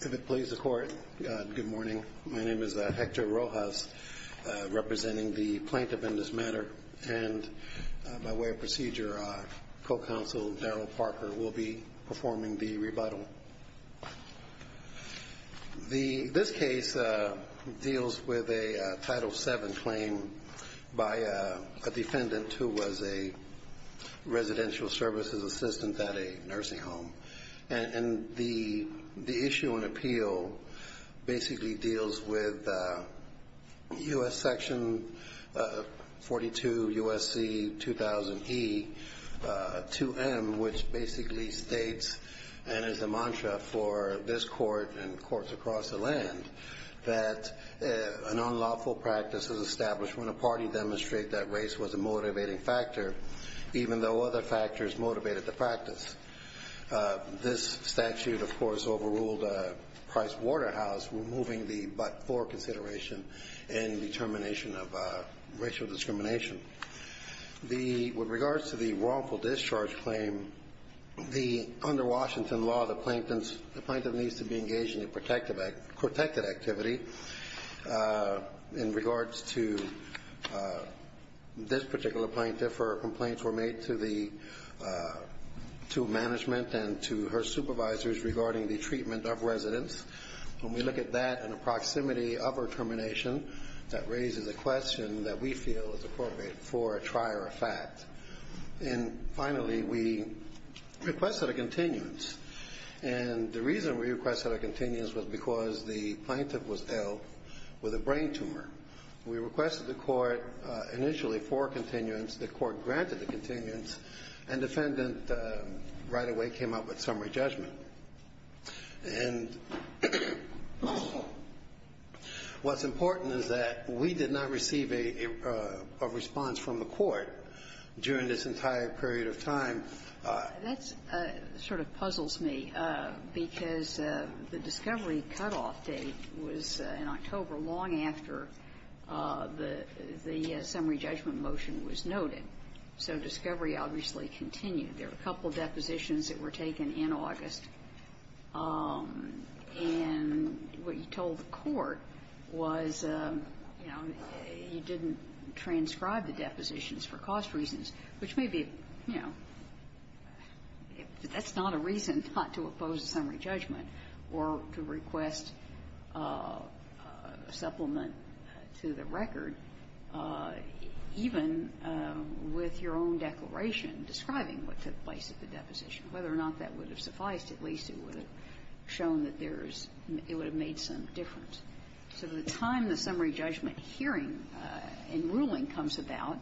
If it pleases the Court, good morning. My name is Hector Rojas, representing the Plaintiff in this matter, and by way of procedure, Co-Counsel Darryl Parker will be performing the rebuttal. This case deals with a Title VII claim by a defendant who was a residential services assistant at a nursing home, and the issue in appeal basically deals with U.S. section 42 U.S.C. 2000E 2M, which basically states, and is a mantra for this Court and courts across the land, that an unlawful practice is established when a party demonstrates that This statute, of course, overruled Price Waterhouse, removing the but-for consideration in the termination of racial discrimination. With regards to the wrongful discharge claim, under Washington law, the plaintiff needs to be engaged in a protected activity. In regards to this particular plaintiff, her complaints were made to management and to her supervisors regarding the treatment of residents. When we look at that and the proximity of her termination, that raises a question that we feel is appropriate for a trier of fact. And finally, we requested a continuance, and the reason we requested a continuance was because the plaintiff was ill with a brain tumor. We requested the Court initially for a continuance. The Court granted the continuance, and the defendant right away came up with summary judgment. And what's important is that we did not receive a response from the Court during this entire period of time. Kagan. That sort of puzzles me, because the discovery cutoff date was in October, long after the summary judgment motion was noted. So discovery obviously continued. There were a couple of depositions that were taken in August, and what you told the That's not a reason not to oppose a summary judgment or to request a supplement to the record, even with your own declaration describing what took place at the deposition. Whether or not that would have sufficed, at least, it would have shown that there is – it would have made some difference. So the time the summary judgment hearing and ruling comes about,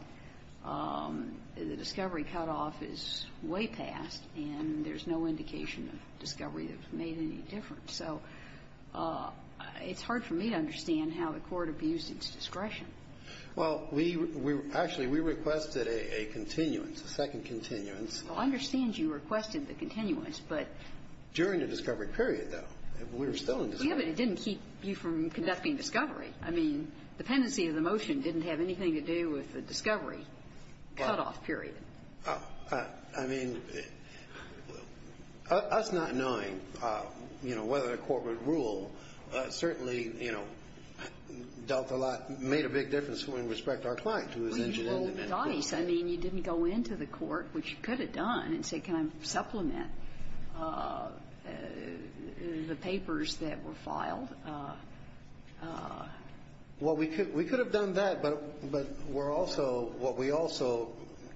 the discovery cutoff is way past, and there's no indication of discovery that's made any difference. So it's hard for me to understand how the Court abused its discretion. Well, we – actually, we requested a continuance, a second continuance. Well, I understand you requested the continuance, but – During the discovery period, though. We were still in discovery. Yeah, but it didn't keep you from conducting discovery. I mean, dependency of the motion didn't have anything to do with the discovery cutoff period. I mean, us not knowing, you know, whether the Court would rule certainly, you know, dealt a lot – made a big difference in respect to our client who was injured in the medical court. Well, nice. I mean, you didn't go into the Court, which you could have done, and say, can I supplement the papers that were filed? Well, we could have done that, but we're also – what we also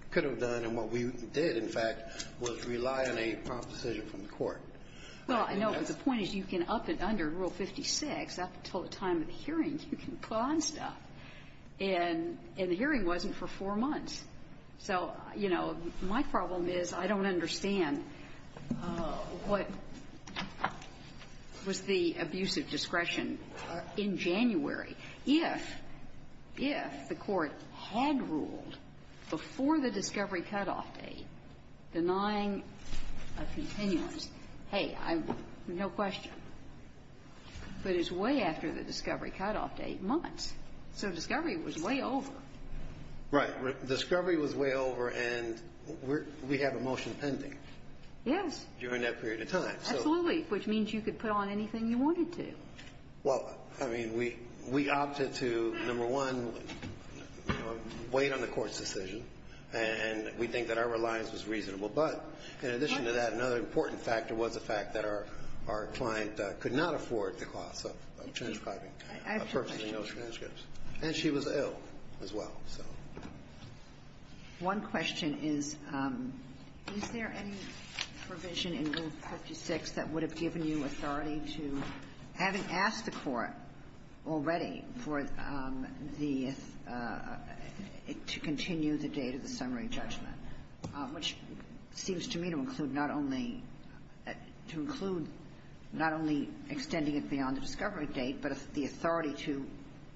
could have done and what we did, in fact, was rely on a prompt decision from the Court. Well, I know, but the point is you can up and under Rule 56, up until the time of the hearing, you can put on stuff. And the hearing wasn't for four months. So, you know, my problem is I don't understand what was the abusive discretion in January if – if the Court had ruled before the discovery cutoff date denying a continuance. Hey, I – no question. But it's way after the discovery cutoff date, months. So discovery was way over. Right. Discovery was way over, and we have a motion pending. Yes. During that period of time. Absolutely, which means you could put on anything you wanted to. Well, I mean, we – we opted to, number one, wait on the Court's decision, and we think that our reliance was reasonable. But in addition to that, another important factor was the fact that our – our client could not afford the cost of transcribing, of purchasing those transcripts. And she was ill as well, so. One question is, is there any provision in Rule 56 that would have given you authority to, having asked the Court already for the – to continue the date of the summary judgment, which seems to me to include not only – to include not only extending it beyond the discovery date, but the authority to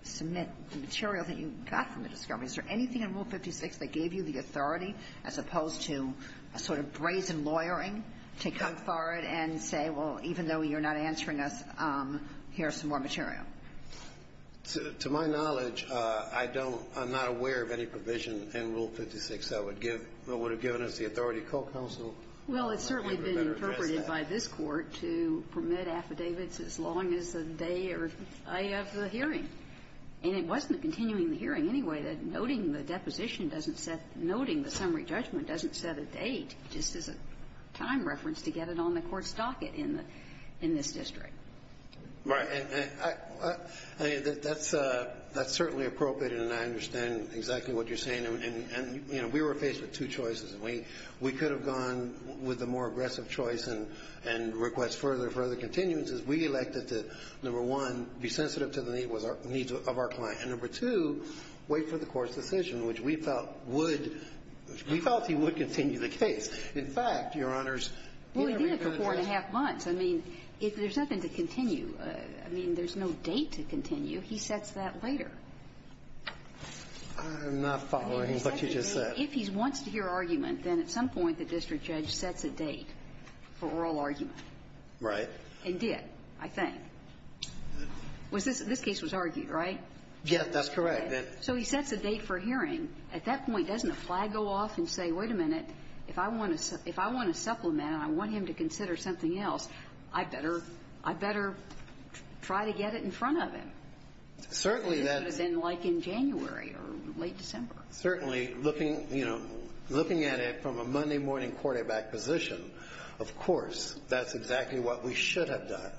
submit the material that you got from the discovery? Is there anything in Rule 56 that gave you the authority, as opposed to a sort of brazen lawyering to come forward and say, well, even though you're not answering us, here's some more material? To my knowledge, I don't – I'm not aware of any provision in Rule 56 that would give – that would have given us the authority to call counsel. Well, it's certainly been interpreted by this Court to permit affidavits as long as the day or day of the hearing. And it wasn't continuing the hearing anyway. Noting the deposition doesn't set – noting the summary judgment doesn't set a date, just as a time reference to get it on the Court's docket in the – in this district. Right. And I – I mean, that's certainly appropriate, and I understand exactly what you're saying. And, you know, we were faced with two choices. We could have gone with the more aggressive choice and request further and further continuances. We elected to, number one, be sensitive to the needs of our client. And, number two, wait for the Court's decision, which we felt would – we felt he would continue the case. In fact, Your Honors, he didn't. Well, he did it for four and a half months. I mean, there's nothing to continue. I mean, there's no date to continue. He sets that later. I'm not following what you just said. If he wants to hear argument, then at some point the district judge sets a date for oral argument. And did, I think. Was this – this case was argued, right? Yes, that's correct. So he sets a date for hearing. At that point, doesn't a flag go off and say, wait a minute, if I want to – if I want to supplement and I want him to consider something else, I'd better – I'd better try to get it in front of him. Certainly, that's – This would have been like in January or late December. Certainly, looking – you know, looking at it from a Monday morning quarterback position, of course, that's exactly what we should have done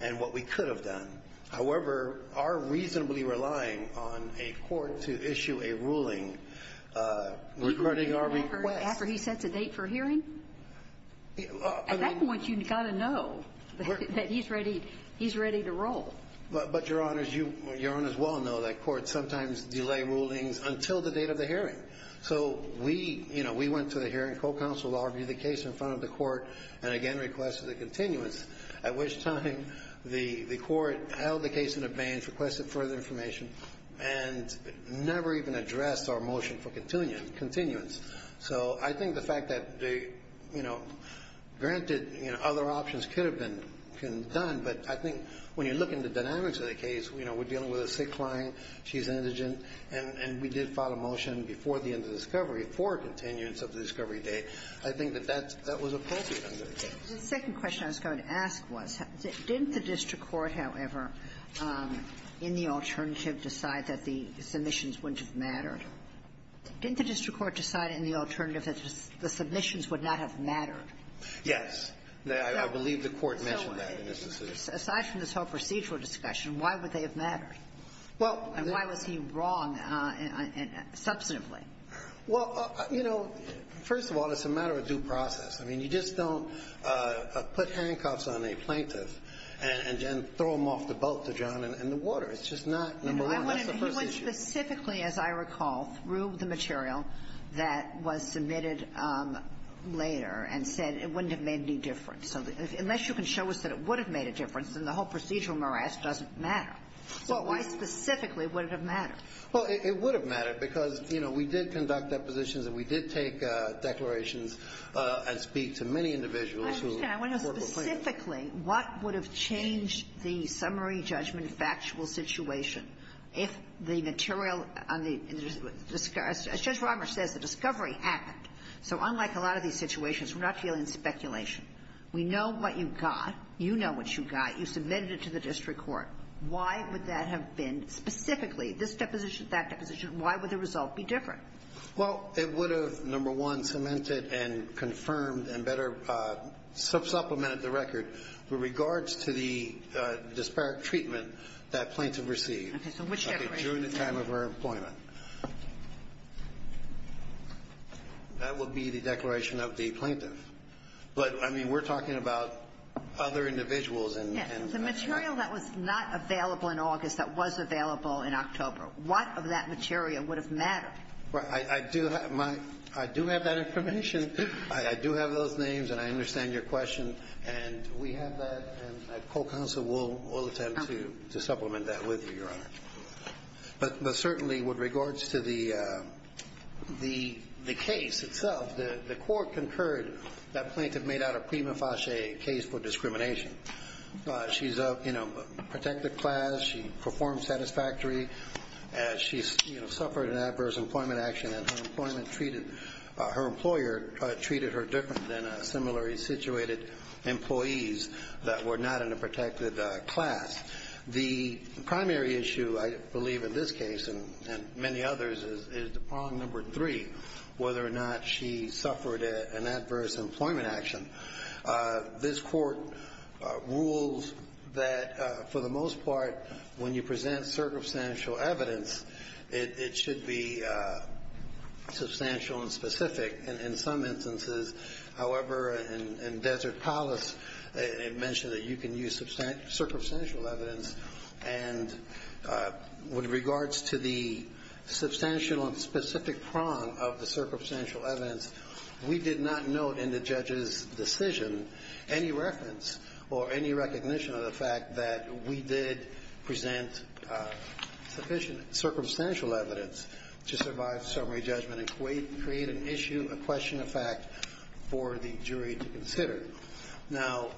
and what we could have done. However, our reasonably relying on a court to issue a ruling regarding our request – Even after he sets a date for hearing? I mean – At that point, you've got to know that he's ready – he's ready to roll. But, Your Honors, you – Your Honors well know that courts sometimes delay rulings until the date of the hearing. So we, you know, we went to the hearing co-counsel, argued the case in front of the court, and again requested a continuance, at which time the court held the case in abeyance, requested further information, and never even addressed our motion for continuance. So I think the fact that they, you know, granted, you know, other options could have been done, but I think when you look into dynamics of the case, you know, we're dealing with a sick client, she's indigent, and we did file a motion before the end of the discovery for a continuance of the discovery date, I think that that was appropriate under the case. The second question I was going to ask was, didn't the district court, however, in the alternative decide that the submissions wouldn't have mattered? Didn't the district court decide in the alternative that the submissions would not have mattered? Yes. I believe the court mentioned that in its decision. Aside from this whole procedural discussion, why would they have mattered? And why was he wrong substantively? Well, you know, first of all, it's a matter of due process. I mean, you just don't put handcuffs on a plaintiff and then throw them off the boat to John and the water. It's just not number one. That's the first issue. He went specifically, as I recall, through the material that was submitted later and said it wouldn't have made any difference. So unless you can show us that it would have made a difference, then the whole procedural morass doesn't matter. So why specifically would it have mattered? Well, it would have mattered because, you know, we did conduct depositions and we did take declarations and speak to many individuals who were plaintiffs. I understand. I want to know specifically what would have changed the summary judgment factual situation if the material on the – as Judge Romer says, the discovery happened. So unlike a lot of these situations, we're not dealing with speculation. We know what you got. You know what you got. You submitted it to the district court. Why would that have been? Specifically, this deposition, that deposition, why would the result be different? Well, it would have, number one, cemented and confirmed and better supplemented the record with regards to the disparate treatment that plaintiff received. Okay. So which declaration? During the time of her appointment. That would be the declaration of the plaintiff. But, I mean, we're talking about other individuals and – Yes. The material that was not available in August that was available in October, what of that material would have mattered? Well, I do have my – I do have that information. I do have those names and I understand your question. And we have that and a co-counsel will attempt to supplement that with you, Your Honor. But certainly with regards to the case itself, the court concurred that plaintiff made out a prima facie case for discrimination. She's of, you know, protected class. She performed satisfactory. She, you know, suffered an adverse employment action and her employer treated her different than similarly situated employees that were not in a protected class. The primary issue, I believe, in this case and many others is problem number three, whether or not she suffered an adverse employment action. This court rules that, for the most part, when you present circumstantial evidence, it should be substantial and specific. In some instances, however, in Desert Palace, it mentioned that you can use circumstantial evidence. And with regards to the substantial and specific prong of the circumstantial evidence, we did not note in the judge's decision any reference or any recognition of the fact that we did present sufficient circumstantial evidence to survive summary judgment and create an issue, a question of fact, for the jury to consider. Now,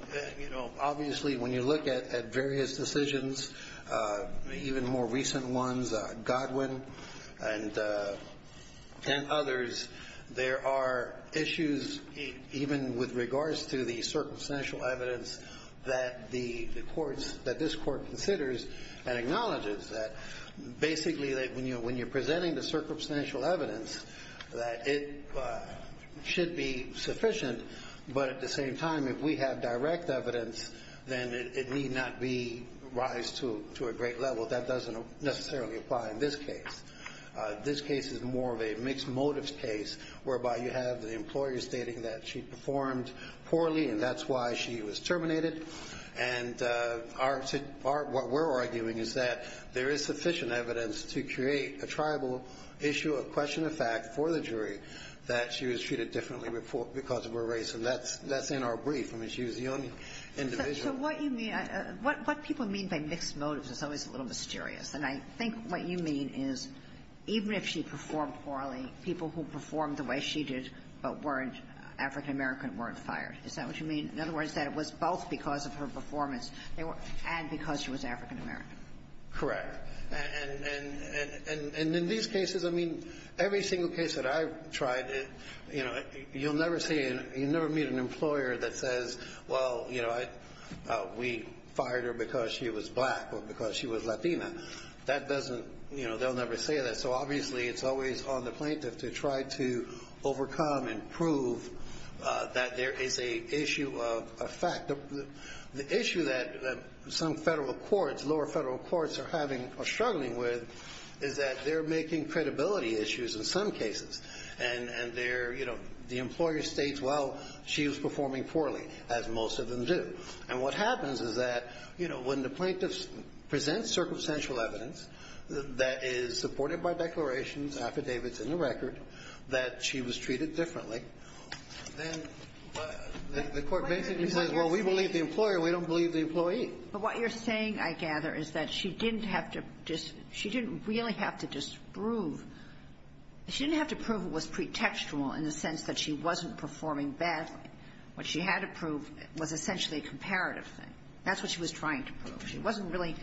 you know, obviously when you look at various decisions, even more recent ones, Godwin and others, there are issues even with regards to the circumstantial evidence that the courts, that this court considers and acknowledges that basically that when you're presenting the circumstantial evidence, that it should be sufficient, but at the same time, if we have direct evidence, then it need not be raised to a great level. That doesn't necessarily apply in this case. This case is more of a mixed motives case whereby you have the employer stating that she performed poorly and that's why she was terminated. And our to our what we're arguing is that there is sufficient evidence to create a tribal issue, a question of fact, for the jury that she was treated differently because of her race. And that's in our brief. I mean, she was the only individual. So what you mean, what people mean by mixed motives is always a little mysterious. And I think what you mean is even if she performed poorly, people who performed the way she did but weren't African-American weren't fired. Is that what you mean? In other words, that it was both because of her performance and because she was African-American. Correct. And in these cases, I mean, every single case that I've tried, you know, you'll never meet an employer that says, well, you know, we fired her because she was black or because she was Latina. That doesn't, you know, they'll never say that. So obviously it's always on the plaintiff to try to overcome and prove that there is a issue of fact. The issue that some federal courts, lower federal courts, are having or struggling with is that they're making credibility issues in some cases. And there, you know, the employer states, well, she was performing poorly, as most of them do. And what happens is that, you know, when the plaintiff presents circumstantial evidence that is supported by declarations, affidavits and the record, that she was treated differently, then the court basically says, well, we believe the employer. We don't believe the employee. But what you're saying, I gather, is that she didn't have to just – she didn't really have to disprove – she didn't have to prove it was pretextual in the sense that she wasn't performing badly. What she had to prove was essentially a comparative thing. That's what she was trying to prove. She wasn't really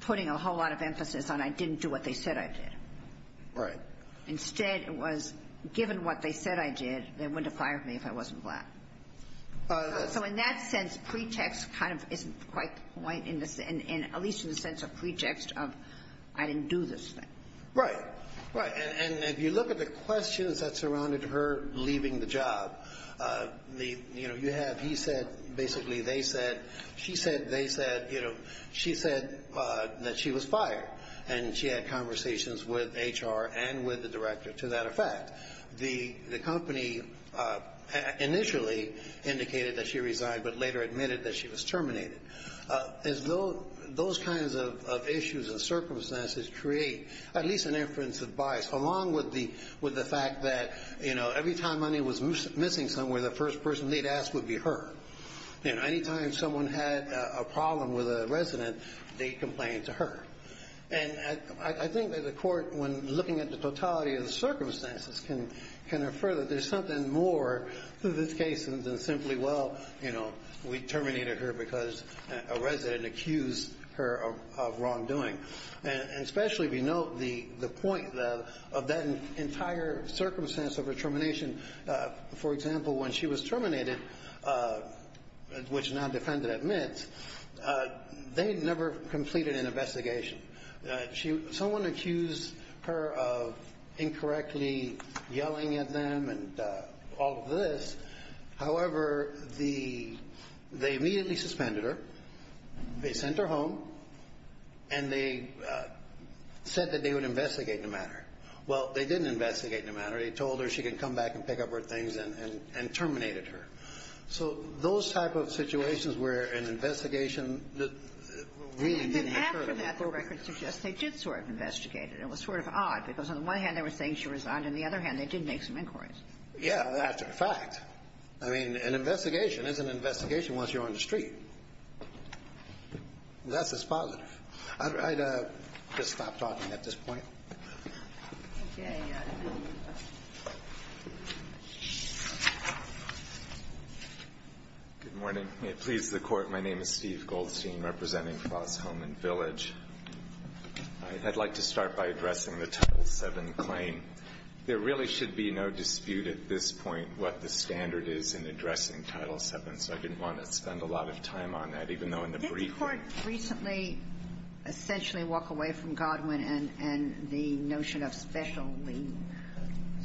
putting a whole lot of emphasis on I didn't do what they said I did. Right. Instead, it was given what they said I did, they wouldn't have fired me if I wasn't black. So in that sense, pretext kind of isn't quite the point in the – at least in the sense of pretext of I didn't do this thing. Right. Right. And if you look at the questions that surrounded her leaving the job, you know, you have he said basically they said, she said they said, you know, she said that she was fired. And she had conversations with HR and with the director to that effect. The company initially indicated that she resigned but later admitted that she was terminated. As those kinds of issues and circumstances create at least an inference of bias along with the fact that, you know, every time money was missing somewhere, the first person they'd ask would be her. You know, any time someone had a problem with a resident, they complained to her. And I think that the court, when looking at the totality of the circumstances, can infer that there's something more to this case than simply, well, you know, we had a resident accuse her of wrongdoing. And especially if you note the point of that entire circumstance of her termination. For example, when she was terminated, which non-defendant admits, they never completed an investigation. Someone accused her of incorrectly yelling at them and all of this. However, they immediately suspended her. They sent her home. And they said that they would investigate the matter. Well, they didn't investigate the matter. They told her she could come back and pick up her things and terminated her. So those type of situations where an investigation really didn't occur. And then after that, the record suggests they did sort of investigate it. It was sort of odd because on the one hand, they were saying she resigned. On the other hand, they did make some inquiries. Yeah, that's a fact. I mean, an investigation is an investigation once you're on the street. That's as positive. I'd just stop talking at this point. Okay. Good morning. May it please the Court. My name is Steve Goldstein, representing Foss Home and Village. I'd like to start by addressing the Title VII claim. There really should be no dispute at this point what the standard is in addressing Title VII. So I didn't want to spend a lot of time on that, even though in the brief we're talking about it. Did the Court recently essentially walk away from Godwin and the notion of special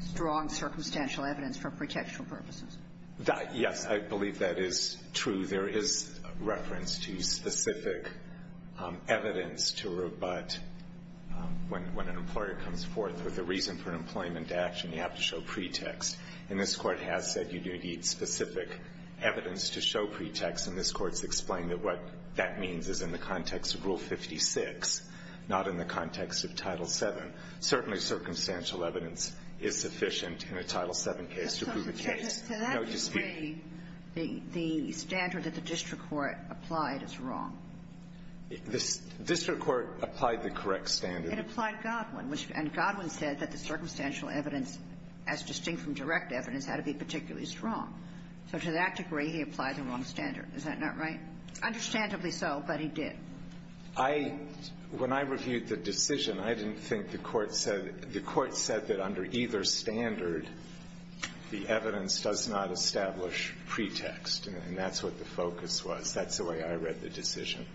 strong circumstantial evidence for protection purposes? Yes. I believe that is true. There is reference to specific evidence to rebut when an employer comes forth with a reason for an employment action, you have to show pretext. And this Court has said you do need specific evidence to show pretext. And this Court's explained that what that means is in the context of Rule 56, not in the context of Title VII. Certainly circumstantial evidence is sufficient in a Title VII case to prove the case. No dispute. To that degree, the standard that the district court applied is wrong. The district court applied the correct standard. It applied Godwin. And Godwin said that the circumstantial evidence, as distinct from direct evidence, had to be particularly strong. So to that degree, he applied the wrong standard. Is that not right? Understandably so, but he did. I — when I reviewed the decision, I didn't think the Court said — the Court said that under either standard, the evidence does not establish pretext. And that's what the focus was. That's the way I read the decision,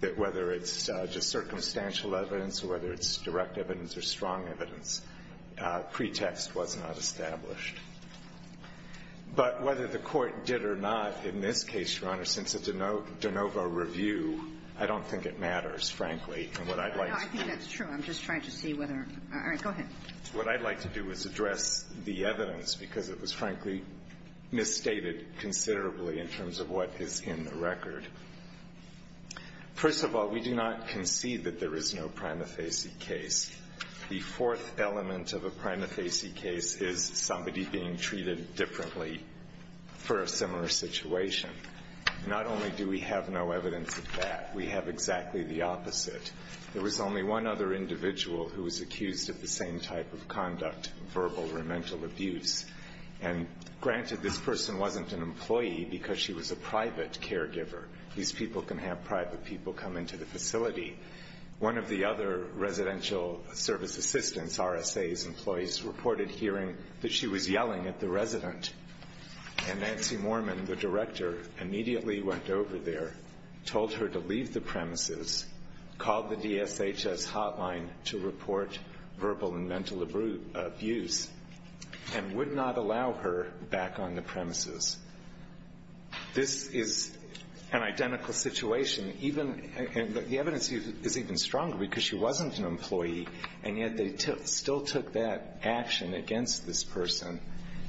that whether it's just circumstantial evidence or whether it's direct evidence or strong evidence, pretext was not established. But whether the Court did or not in this case, Your Honor, since it's a de novo review, I don't think it matters, frankly. And what I'd like to do — No, I think that's true. I'm just trying to see whether — all right. Go ahead. What I'd like to do is address the evidence, because it was, frankly, misstated considerably in terms of what is in the record. First of all, we do not concede that there is no prima facie case. The fourth element of a prima facie case is somebody being treated differently for a similar situation. Not only do we have no evidence of that, we have exactly the opposite. There was only one other individual who was accused of the same type of conduct, verbal or mental abuse. And, granted, this person wasn't an employee because she was a private caregiver. These people can have private people come into the facility. One of the other residential service assistants, RSA's employees, reported hearing that she was yelling at the resident. And Nancy Moorman, the director, immediately went over there, told her to leave the premises, called the DSHS hotline to report verbal and mental abuse. And would not allow her back on the premises. This is an identical situation. The evidence is even stronger because she wasn't an employee, and yet they still took that action against this person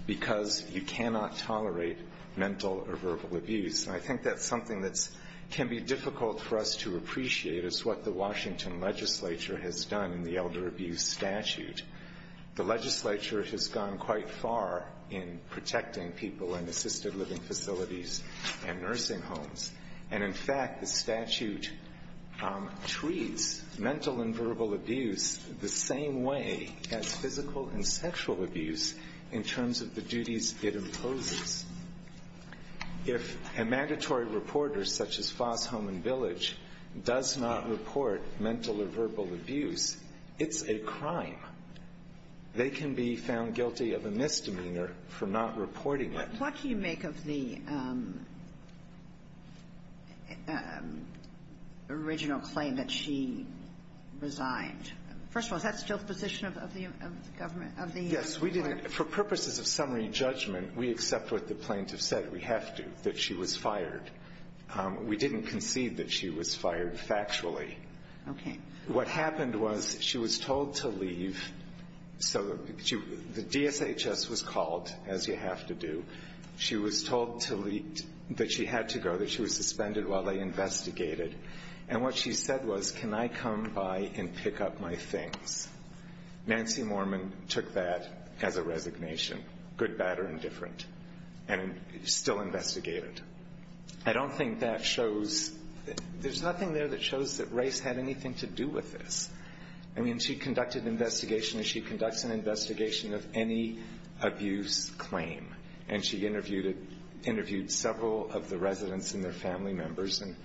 because you cannot tolerate mental or verbal abuse. And I think that's something that can be difficult for us to appreciate is what the Washington legislature has done in the elder abuse statute. The legislature has gone quite far in protecting people in assisted living facilities and nursing homes. And, in fact, the statute treats mental and verbal abuse the same way as physical and sexual abuse in terms of the duties it imposes. If a mandatory reporter, such as Foss Home and Village, does not report mental or sexual abuse, they can be found guilty of a misdemeanor for not reporting it. What do you make of the original claim that she resigned? First of all, is that still the position of the government, of the court? Yes, we did. For purposes of summary judgment, we accept what the plaintiff said. We have to, that she was fired. We didn't concede that she was fired factually. Okay. What happened was she was told to leave. So the DSHS was called, as you have to do. She was told that she had to go, that she was suspended while they investigated. And what she said was, can I come by and pick up my things? Nancy Mormon took that as a resignation, good, bad, or indifferent, and still investigated. I don't think that shows, there's nothing there that shows that Race had anything to do with this. I mean, she conducted an investigation, and she conducts an investigation of any abuse claim. And she interviewed it, interviewed several of the residents and their family members, and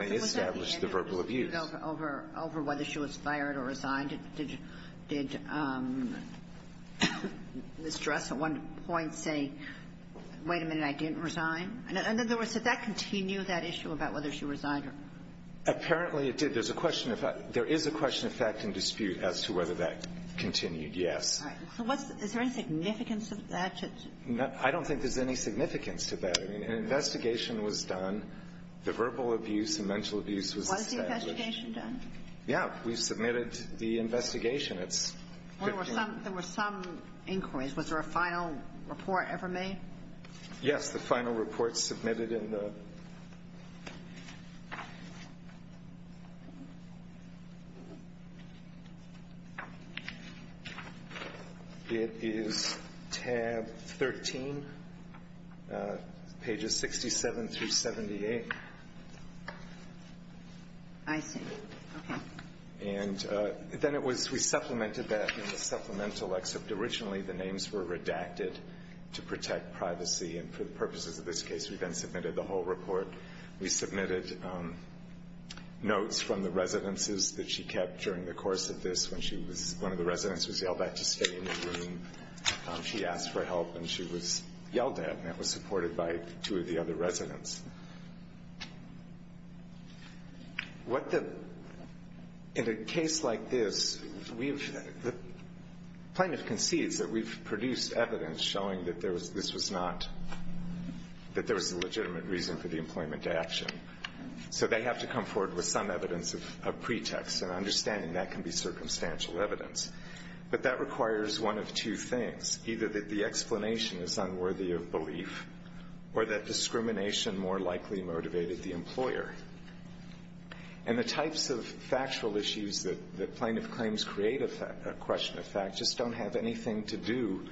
they established the verbal abuse. Over whether she was fired or resigned, did Ms. Dressel at one point say, wait a minute, I didn't resign? And in other words, did that continue, that issue about whether she resigned or not? Apparently, it did. There's a question, there is a question of fact and dispute as to whether that continued, yes. All right. So what's, is there any significance of that? I don't think there's any significance to that. I mean, an investigation was done. The verbal abuse and mental abuse was established. Was the investigation done? Yeah. We submitted the investigation. There were some inquiries. Was there a final report ever made? Yes. The final report submitted in the, it is tab 13, pages 67 through 78. I see. Okay. And then it was, we supplemented that in the supplemental excerpt. And originally, the names were redacted to protect privacy. And for the purposes of this case, we then submitted the whole report. We submitted notes from the residences that she kept during the course of this when she was, one of the residents was yelled at to stay in the room. She asked for help and she was yelled at. And that was supported by two of the other residents. In a case like this, the plaintiff concedes that we've produced evidence showing that this was not, that there was a legitimate reason for the employment to action. So they have to come forward with some evidence of pretext and understanding that can be circumstantial evidence. But that requires one of two things, either that the explanation is unworthy of belief or that discrimination more likely motivated the employer. And the types of factual issues that plaintiff claims create a question of fact just don't have anything to do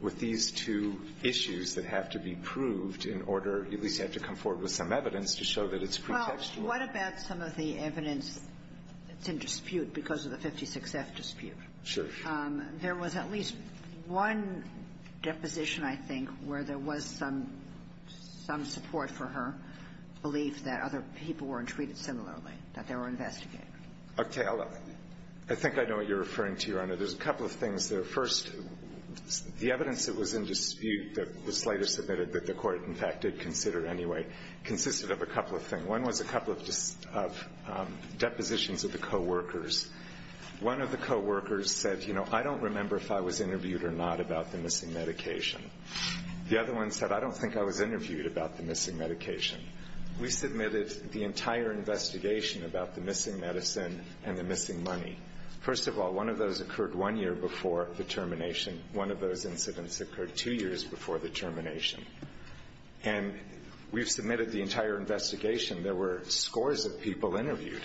with these two issues that have to be proved in order at least have to come forward with some evidence to show that it's pretextual. Well, what about some of the evidence that's in dispute because of the 56F dispute? There was at least one deposition, I think, where there was some support for her belief that other people were treated similarly, that there were investigators. Okay. I think I know what you're referring to, Your Honor. There's a couple of things there. First, the evidence that was in dispute that was later submitted that the Court, in fact, did consider anyway consisted of a couple of things. One was a couple of depositions of the coworkers. One of the coworkers said, you know, I don't remember if I was interviewed or not about the missing medication. The other one said, I don't think I was interviewed about the missing medication. We submitted the entire investigation about the missing medicine and the missing money. First of all, one of those occurred one year before the termination. One of those incidents occurred two years before the termination. And we've submitted the entire investigation. There were scores of people interviewed.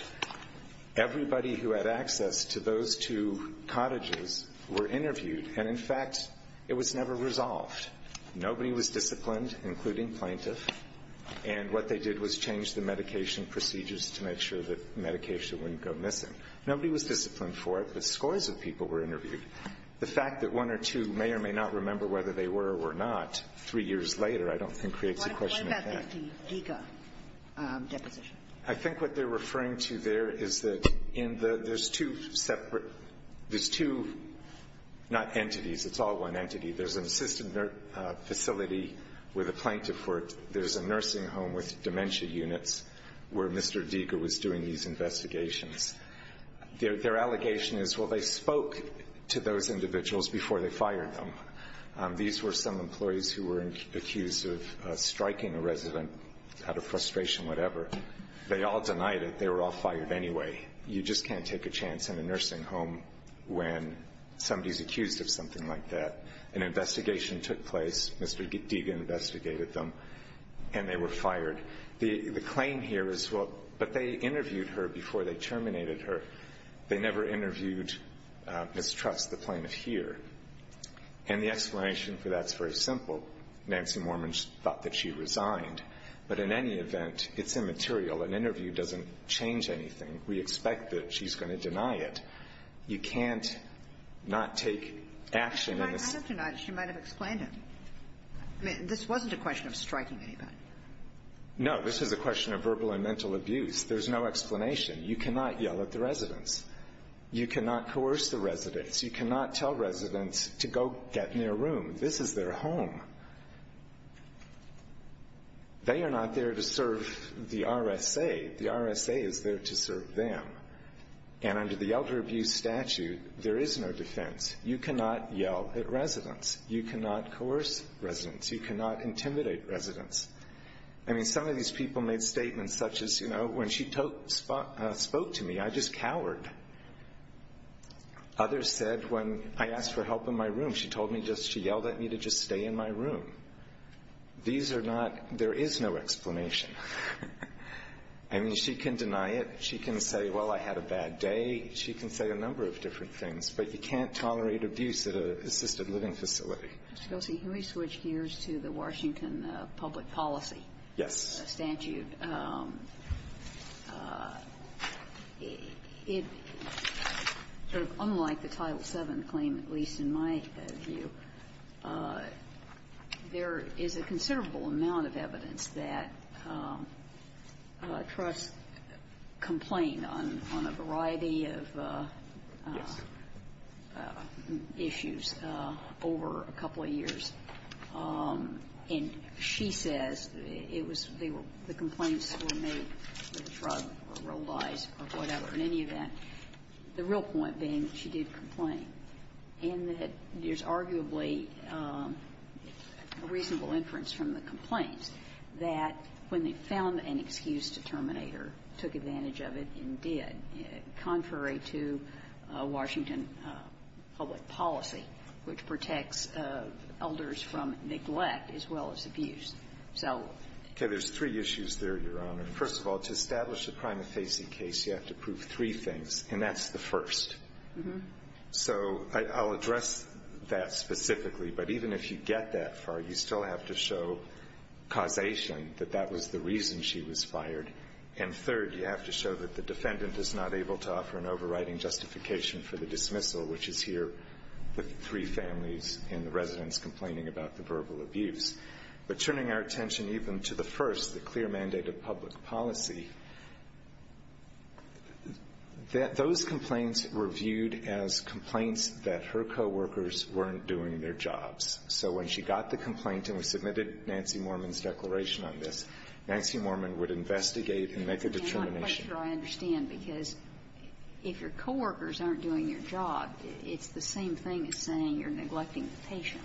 Everybody who had access to those two cottages were interviewed. And, in fact, it was never resolved. Nobody was disciplined, including plaintiff. And what they did was change the medication procedures to make sure that medication wouldn't go missing. Nobody was disciplined for it, but scores of people were interviewed. The fact that one or two may or may not remember whether they were or were not, three years later, I don't think creates a question of that. What about the Giga deposition? I think what they're referring to there is that there's two separate, there's two, not entities. It's all one entity. There's an assisted facility with a plaintiff for it. There's a nursing home with dementia units where Mr. Giga was doing these investigations. Their allegation is, well, they spoke to those individuals before they fired them. These were some employees who were accused of striking a resident out of frustration, whatever. They all denied it. They were all fired anyway. You just can't take a chance in a nursing home when somebody is accused of something like that. An investigation took place. Mr. Giga investigated them, and they were fired. The claim here is, well, but they interviewed her before they terminated her. They never interviewed Ms. Trust, the plaintiff here. And the explanation for that is very simple. Nancy Mormons thought that she resigned. But in any event, it's immaterial. An interview doesn't change anything. We expect that she's going to deny it. You can't not take action in this. I have denied it. She might have explained it. I mean, this wasn't a question of striking anybody. No. This is a question of verbal and mental abuse. There's no explanation. You cannot yell at the residents. You cannot coerce the residents. You cannot tell residents to go get in their room. This is their home. They are not there to serve the RSA. The RSA is there to serve them. And under the elder abuse statute, there is no defense. You cannot yell at residents. You cannot coerce residents. You cannot intimidate residents. I mean, some of these people made statements such as, you know, when she spoke to me, I just cowered. Others said, when I asked for help in my room, she told me just she yelled at me to just stay in my room. These are not – there is no explanation. I mean, she can deny it. She can say, well, I had a bad day. She can say a number of different things. But you can't tolerate abuse at an assisted living facility. Ms. Gossie, can we switch gears to the Washington public policy statute? Yes. It's sort of unlike the Title VII claim, at least in my view. There is a considerable amount of evidence that trusts complain on a variety of issues over a couple of years. And she says it was – they were – the complaints were made with a shrug or rolled eyes or whatever, in any event, the real point being that she did complain, and that there's arguably a reasonable inference from the complaints that when they found an excuse to terminate her, took advantage of it and did, contrary to Washington public policy, which protects elders from neglect as well as abuse. So – Okay. There's three issues there, Your Honor. First of all, to establish a prima facie case, you have to prove three things, and that's the first. So I'll address that specifically. But even if you get that far, you still have to show causation, that that was the reason she was fired. And third, you have to show that the defendant is not able to offer an overriding justification for the dismissal, which is here with three families and the residents complaining about the verbal abuse. But turning our attention even to the first, the clear mandate of public policy, that those complaints were viewed as complaints that her coworkers weren't doing their jobs. So when she got the complaint, and we submitted Nancy Mormon's declaration on this, Nancy Mormon would investigate and make a determination. I'm not sure I understand, because if your coworkers aren't doing your job, it's the same thing as saying you're neglecting the patient.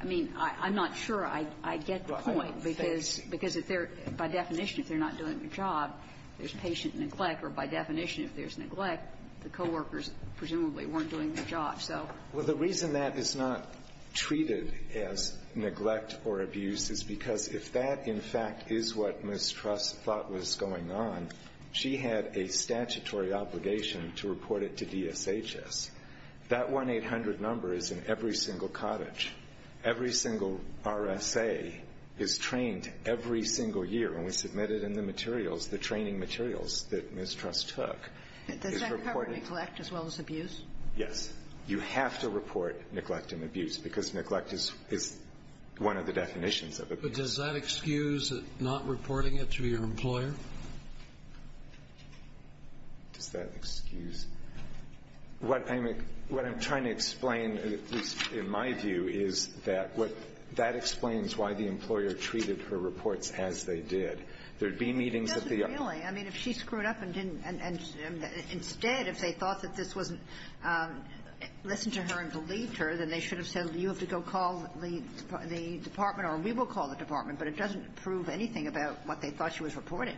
I mean, I'm not sure I get the point, because if they're – by definition, if they're not doing their job, there's patient neglect, or by definition, if there's neglect, the coworkers presumably weren't doing their job, so. Well, the reason that is not treated as neglect or abuse is because if that, in fact, is what Ms. Truss thought was going on, she had a statutory obligation to report it to DSHS. That 1-800 number is in every single cottage. Every single RSA is trained every single year, and we submitted in the materials the training materials that Ms. Truss took. Does that cover neglect as well as abuse? Yes. You have to report neglect and abuse, because neglect is one of the definitions of abuse. But does that excuse not reporting it to your employer? Does that excuse? What I'm trying to explain, at least in my view, is that what – that explains why the employer treated her reports as they did. There'd be meetings at the – It doesn't really. I mean, if she screwed up and didn't – and instead, if they thought that this wasn't – listened to her and believed her, then they should have said, you have to go call the department, or we will call the department. But it doesn't prove anything about what they thought she was reporting.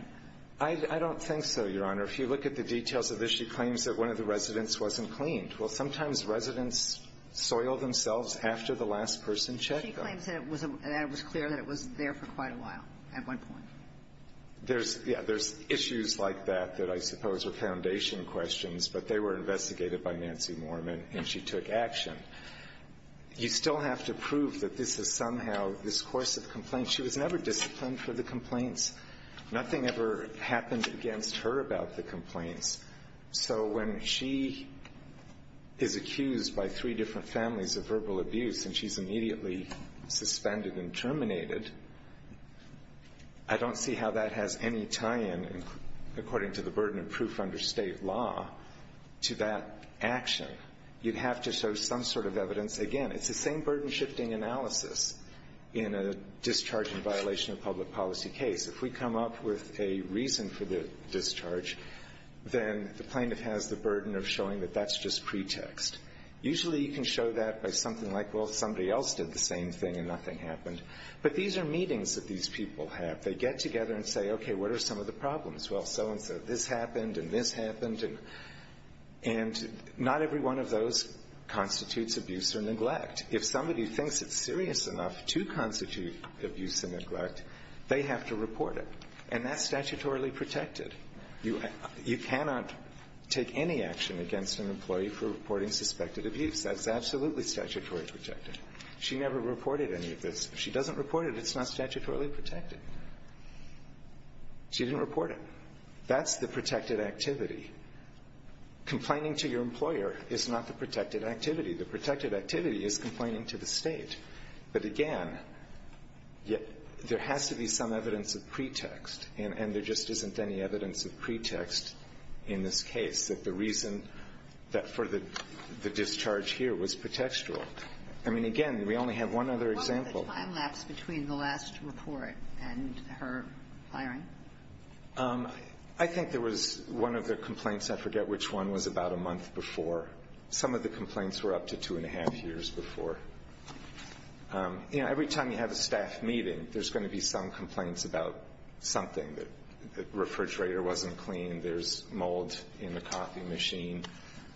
I don't think so, Your Honor. If you look at the details of this, she claims that one of the residents wasn't cleaned. Well, sometimes residents soil themselves after the last person checked them. She claims that it was clear that it was there for quite a while at one point. There's – yeah, there's issues like that that I suppose are foundation questions, but they were investigated by Nancy Moorman, and she took action. You still have to prove that this is somehow this course of complaints. She was never disciplined for the complaints. Nothing ever happened against her about the complaints. So when she is accused by three different families of verbal abuse and she's immediately suspended and terminated, I don't see how that has any tie-in, according to the burden of proof under state law, to that action. You'd have to show some sort of evidence. Again, it's the same burden-shifting analysis in a discharge in violation of public policy case. If we come up with a reason for the discharge, then the plaintiff has the burden of showing that that's just pretext. Usually you can show that by something like, well, somebody else did the same thing and nothing happened. But these are meetings that these people have. They get together and say, okay, what are some of the problems? Well, so-and-so, this happened and this happened. And not every one of those constitutes abuse or neglect. If somebody thinks it's serious enough to constitute abuse and neglect, they have to report it. And that's statutorily protected. You cannot take any action against an employee for reporting suspected abuse. That's absolutely statutorily protected. She never reported any of this. If she doesn't report it, it's not statutorily protected. She didn't report it. That's the protected activity. Complaining to your employer is not the protected activity. The protected activity is complaining to the State. But, again, there has to be some evidence of pretext. And there just isn't any evidence of pretext in this case, that the reason that for the discharge here was pretextual. I mean, again, we only have one other example. The time lapse between the last report and her firing? I think there was one of the complaints, I forget which one, was about a month before. Some of the complaints were up to two and a half years before. You know, every time you have a staff meeting, there's going to be some complaints about something. The refrigerator wasn't clean. There's mold in the coffee machine.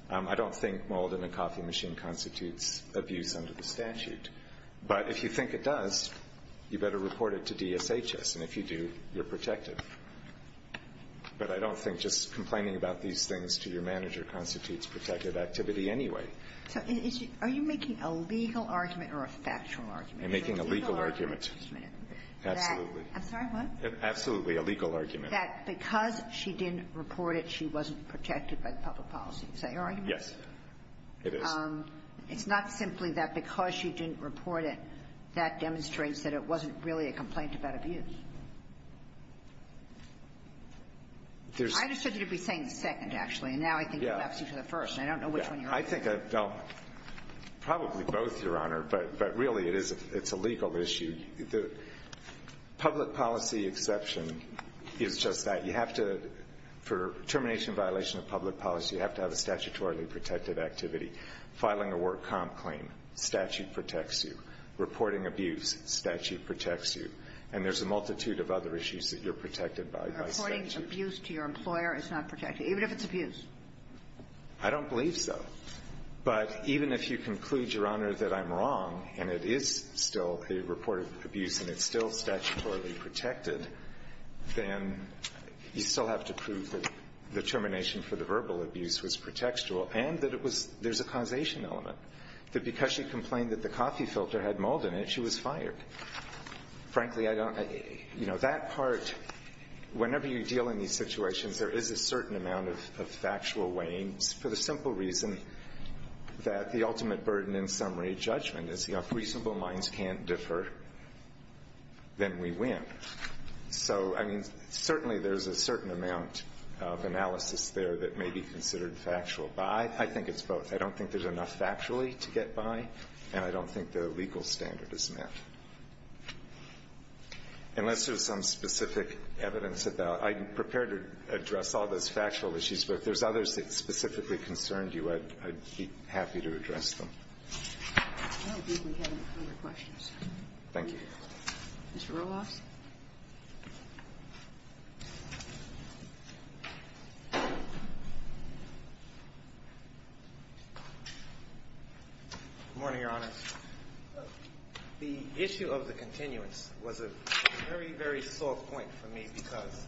I don't think mold in a coffee machine constitutes abuse under the statute. But if you think it does, you better report it to DSHS. And if you do, you're protected. But I don't think just complaining about these things to your manager constitutes protected activity anyway. So are you making a legal argument or a factual argument? I'm making a legal argument. A legal argument, just a minute. Absolutely. I'm sorry, what? Absolutely a legal argument. That because she didn't report it, she wasn't protected by the public policy. Is that your argument? Yes, it is. It's not simply that because she didn't report it, that demonstrates that it wasn't really a complaint about abuse. I understood that you'd be saying the second, actually, and now I think you're asking for the first. I don't know which one you're on. I think probably both, Your Honor. But really, it's a legal issue. The public policy exception is just that. You have to, for termination violation of public policy, you have to have a statutorily protected activity. Filing a work comp claim, statute protects you. Reporting abuse, statute protects you. And there's a multitude of other issues that you're protected by, by statute. Reporting abuse to your employer is not protected, even if it's abuse. I don't believe so. But even if you conclude, Your Honor, that I'm wrong and it is still a reported abuse and it's still statutorily protected, then you still have to prove that the complaint was filed, and that it was, there's a causation element, that because she complained that the coffee filter had mold in it, she was fired. Frankly, I don't, you know, that part, whenever you deal in these situations, there is a certain amount of factual weighing, for the simple reason that the ultimate burden in summary judgment is, you know, if reasonable minds can't differ, then we win. So, I mean, certainly there's a certain amount of analysis there that may be considered factual. But I think it's both. I don't think there's enough factually to get by, and I don't think the legal standard is met. Unless there's some specific evidence about, I'm prepared to address all those factual issues, but if there's others that specifically concerned you, I'd be happy to address Thank you. Mr. Roloff? Good morning, Your Honors. The issue of the continuance was a very, very sore point for me, because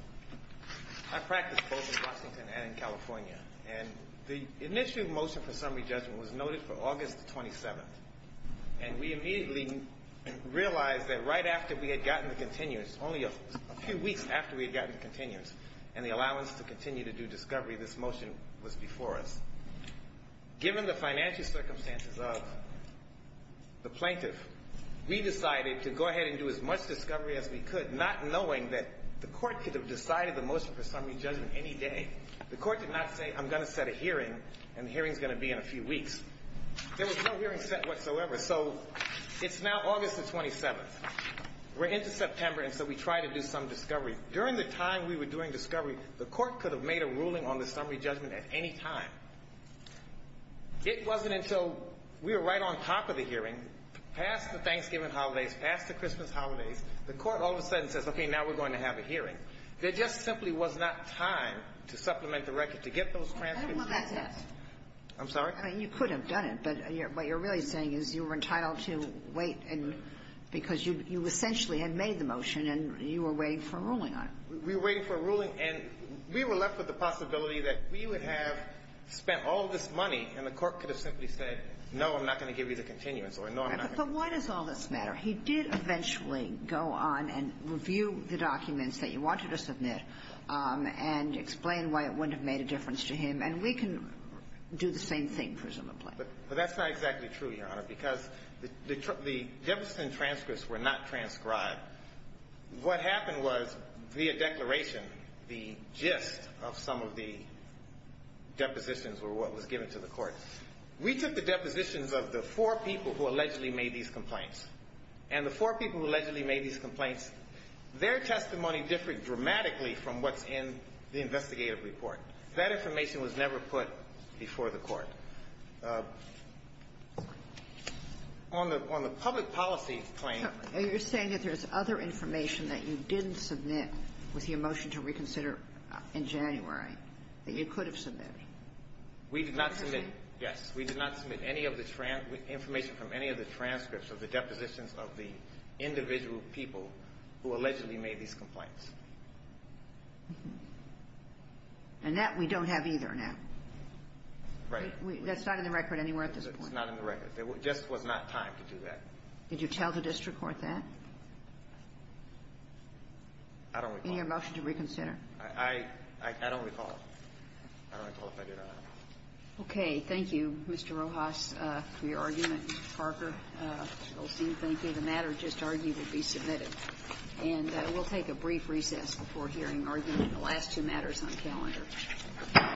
I practiced both in Washington and in California, and the initial motion for summary judgment was noted for August 27th. And we immediately realized that right after we had gotten the continuance, only a few weeks after we had gotten the continuance, and the allowance to continue to do discovery, this motion was before us. Given the financial circumstances of the plaintiff, we decided to go ahead and do as much discovery as we could, not knowing that the court could have decided the motion for summary judgment any day. The court did not say, I'm going to set a hearing, and the hearing is going to be in a few weeks. There was no hearing set whatsoever. So it's now August the 27th. We're into September, and so we try to do some discovery. During the time we were doing discovery, the court could have made a ruling on the summary judgment at any time. It wasn't until we were right on top of the hearing, past the Thanksgiving holidays, past the Christmas holidays, the court all of a sudden says, okay, now we're going to have a hearing. There just simply was not time to supplement the record, to get those transcripts processed. I'm sorry? I mean, you could have done it, but what you're really saying is you were entitled to wait, because you essentially had made the motion, and you were waiting for a ruling on it. We were waiting for a ruling, and we were left with the possibility that we would have spent all this money, and the court could have simply said, no, I'm not going to give you the continuance, or no, I'm not going to do it. But why does all this matter? He did eventually go on and review the documents that you wanted to submit and explain why it wouldn't have made a difference to him. And we can do the same thing, presumably. But that's not exactly true, Your Honor, because the Jefferson transcripts were not transcribed. What happened was, via declaration, the gist of some of the depositions were what was given to the court. We took the depositions of the four people who allegedly made these complaints. And the four people who allegedly made these complaints, their testimony differed dramatically from what's in the investigative report. That information was never put before the court. On the public policy claim ---- You're saying that there's other information that you didn't submit with your motion to reconsider in January that you could have submitted? We did not submit. Yes. We did not submit any of the information from any of the transcripts of the depositions of the individual people who allegedly made these complaints. And that we don't have either now. Right. That's not in the record anywhere at this point. It's not in the record. There just was not time to do that. Did you tell the district court that? I don't recall. In your motion to reconsider. I don't recall. I don't recall if I did or not. Okay. Thank you, Mr. Rojas, for your argument. Mr. Parker, we'll see. Thank you. The matter just argued will be submitted. And we'll take a brief recess before hearing argument in the last two matters on calendar.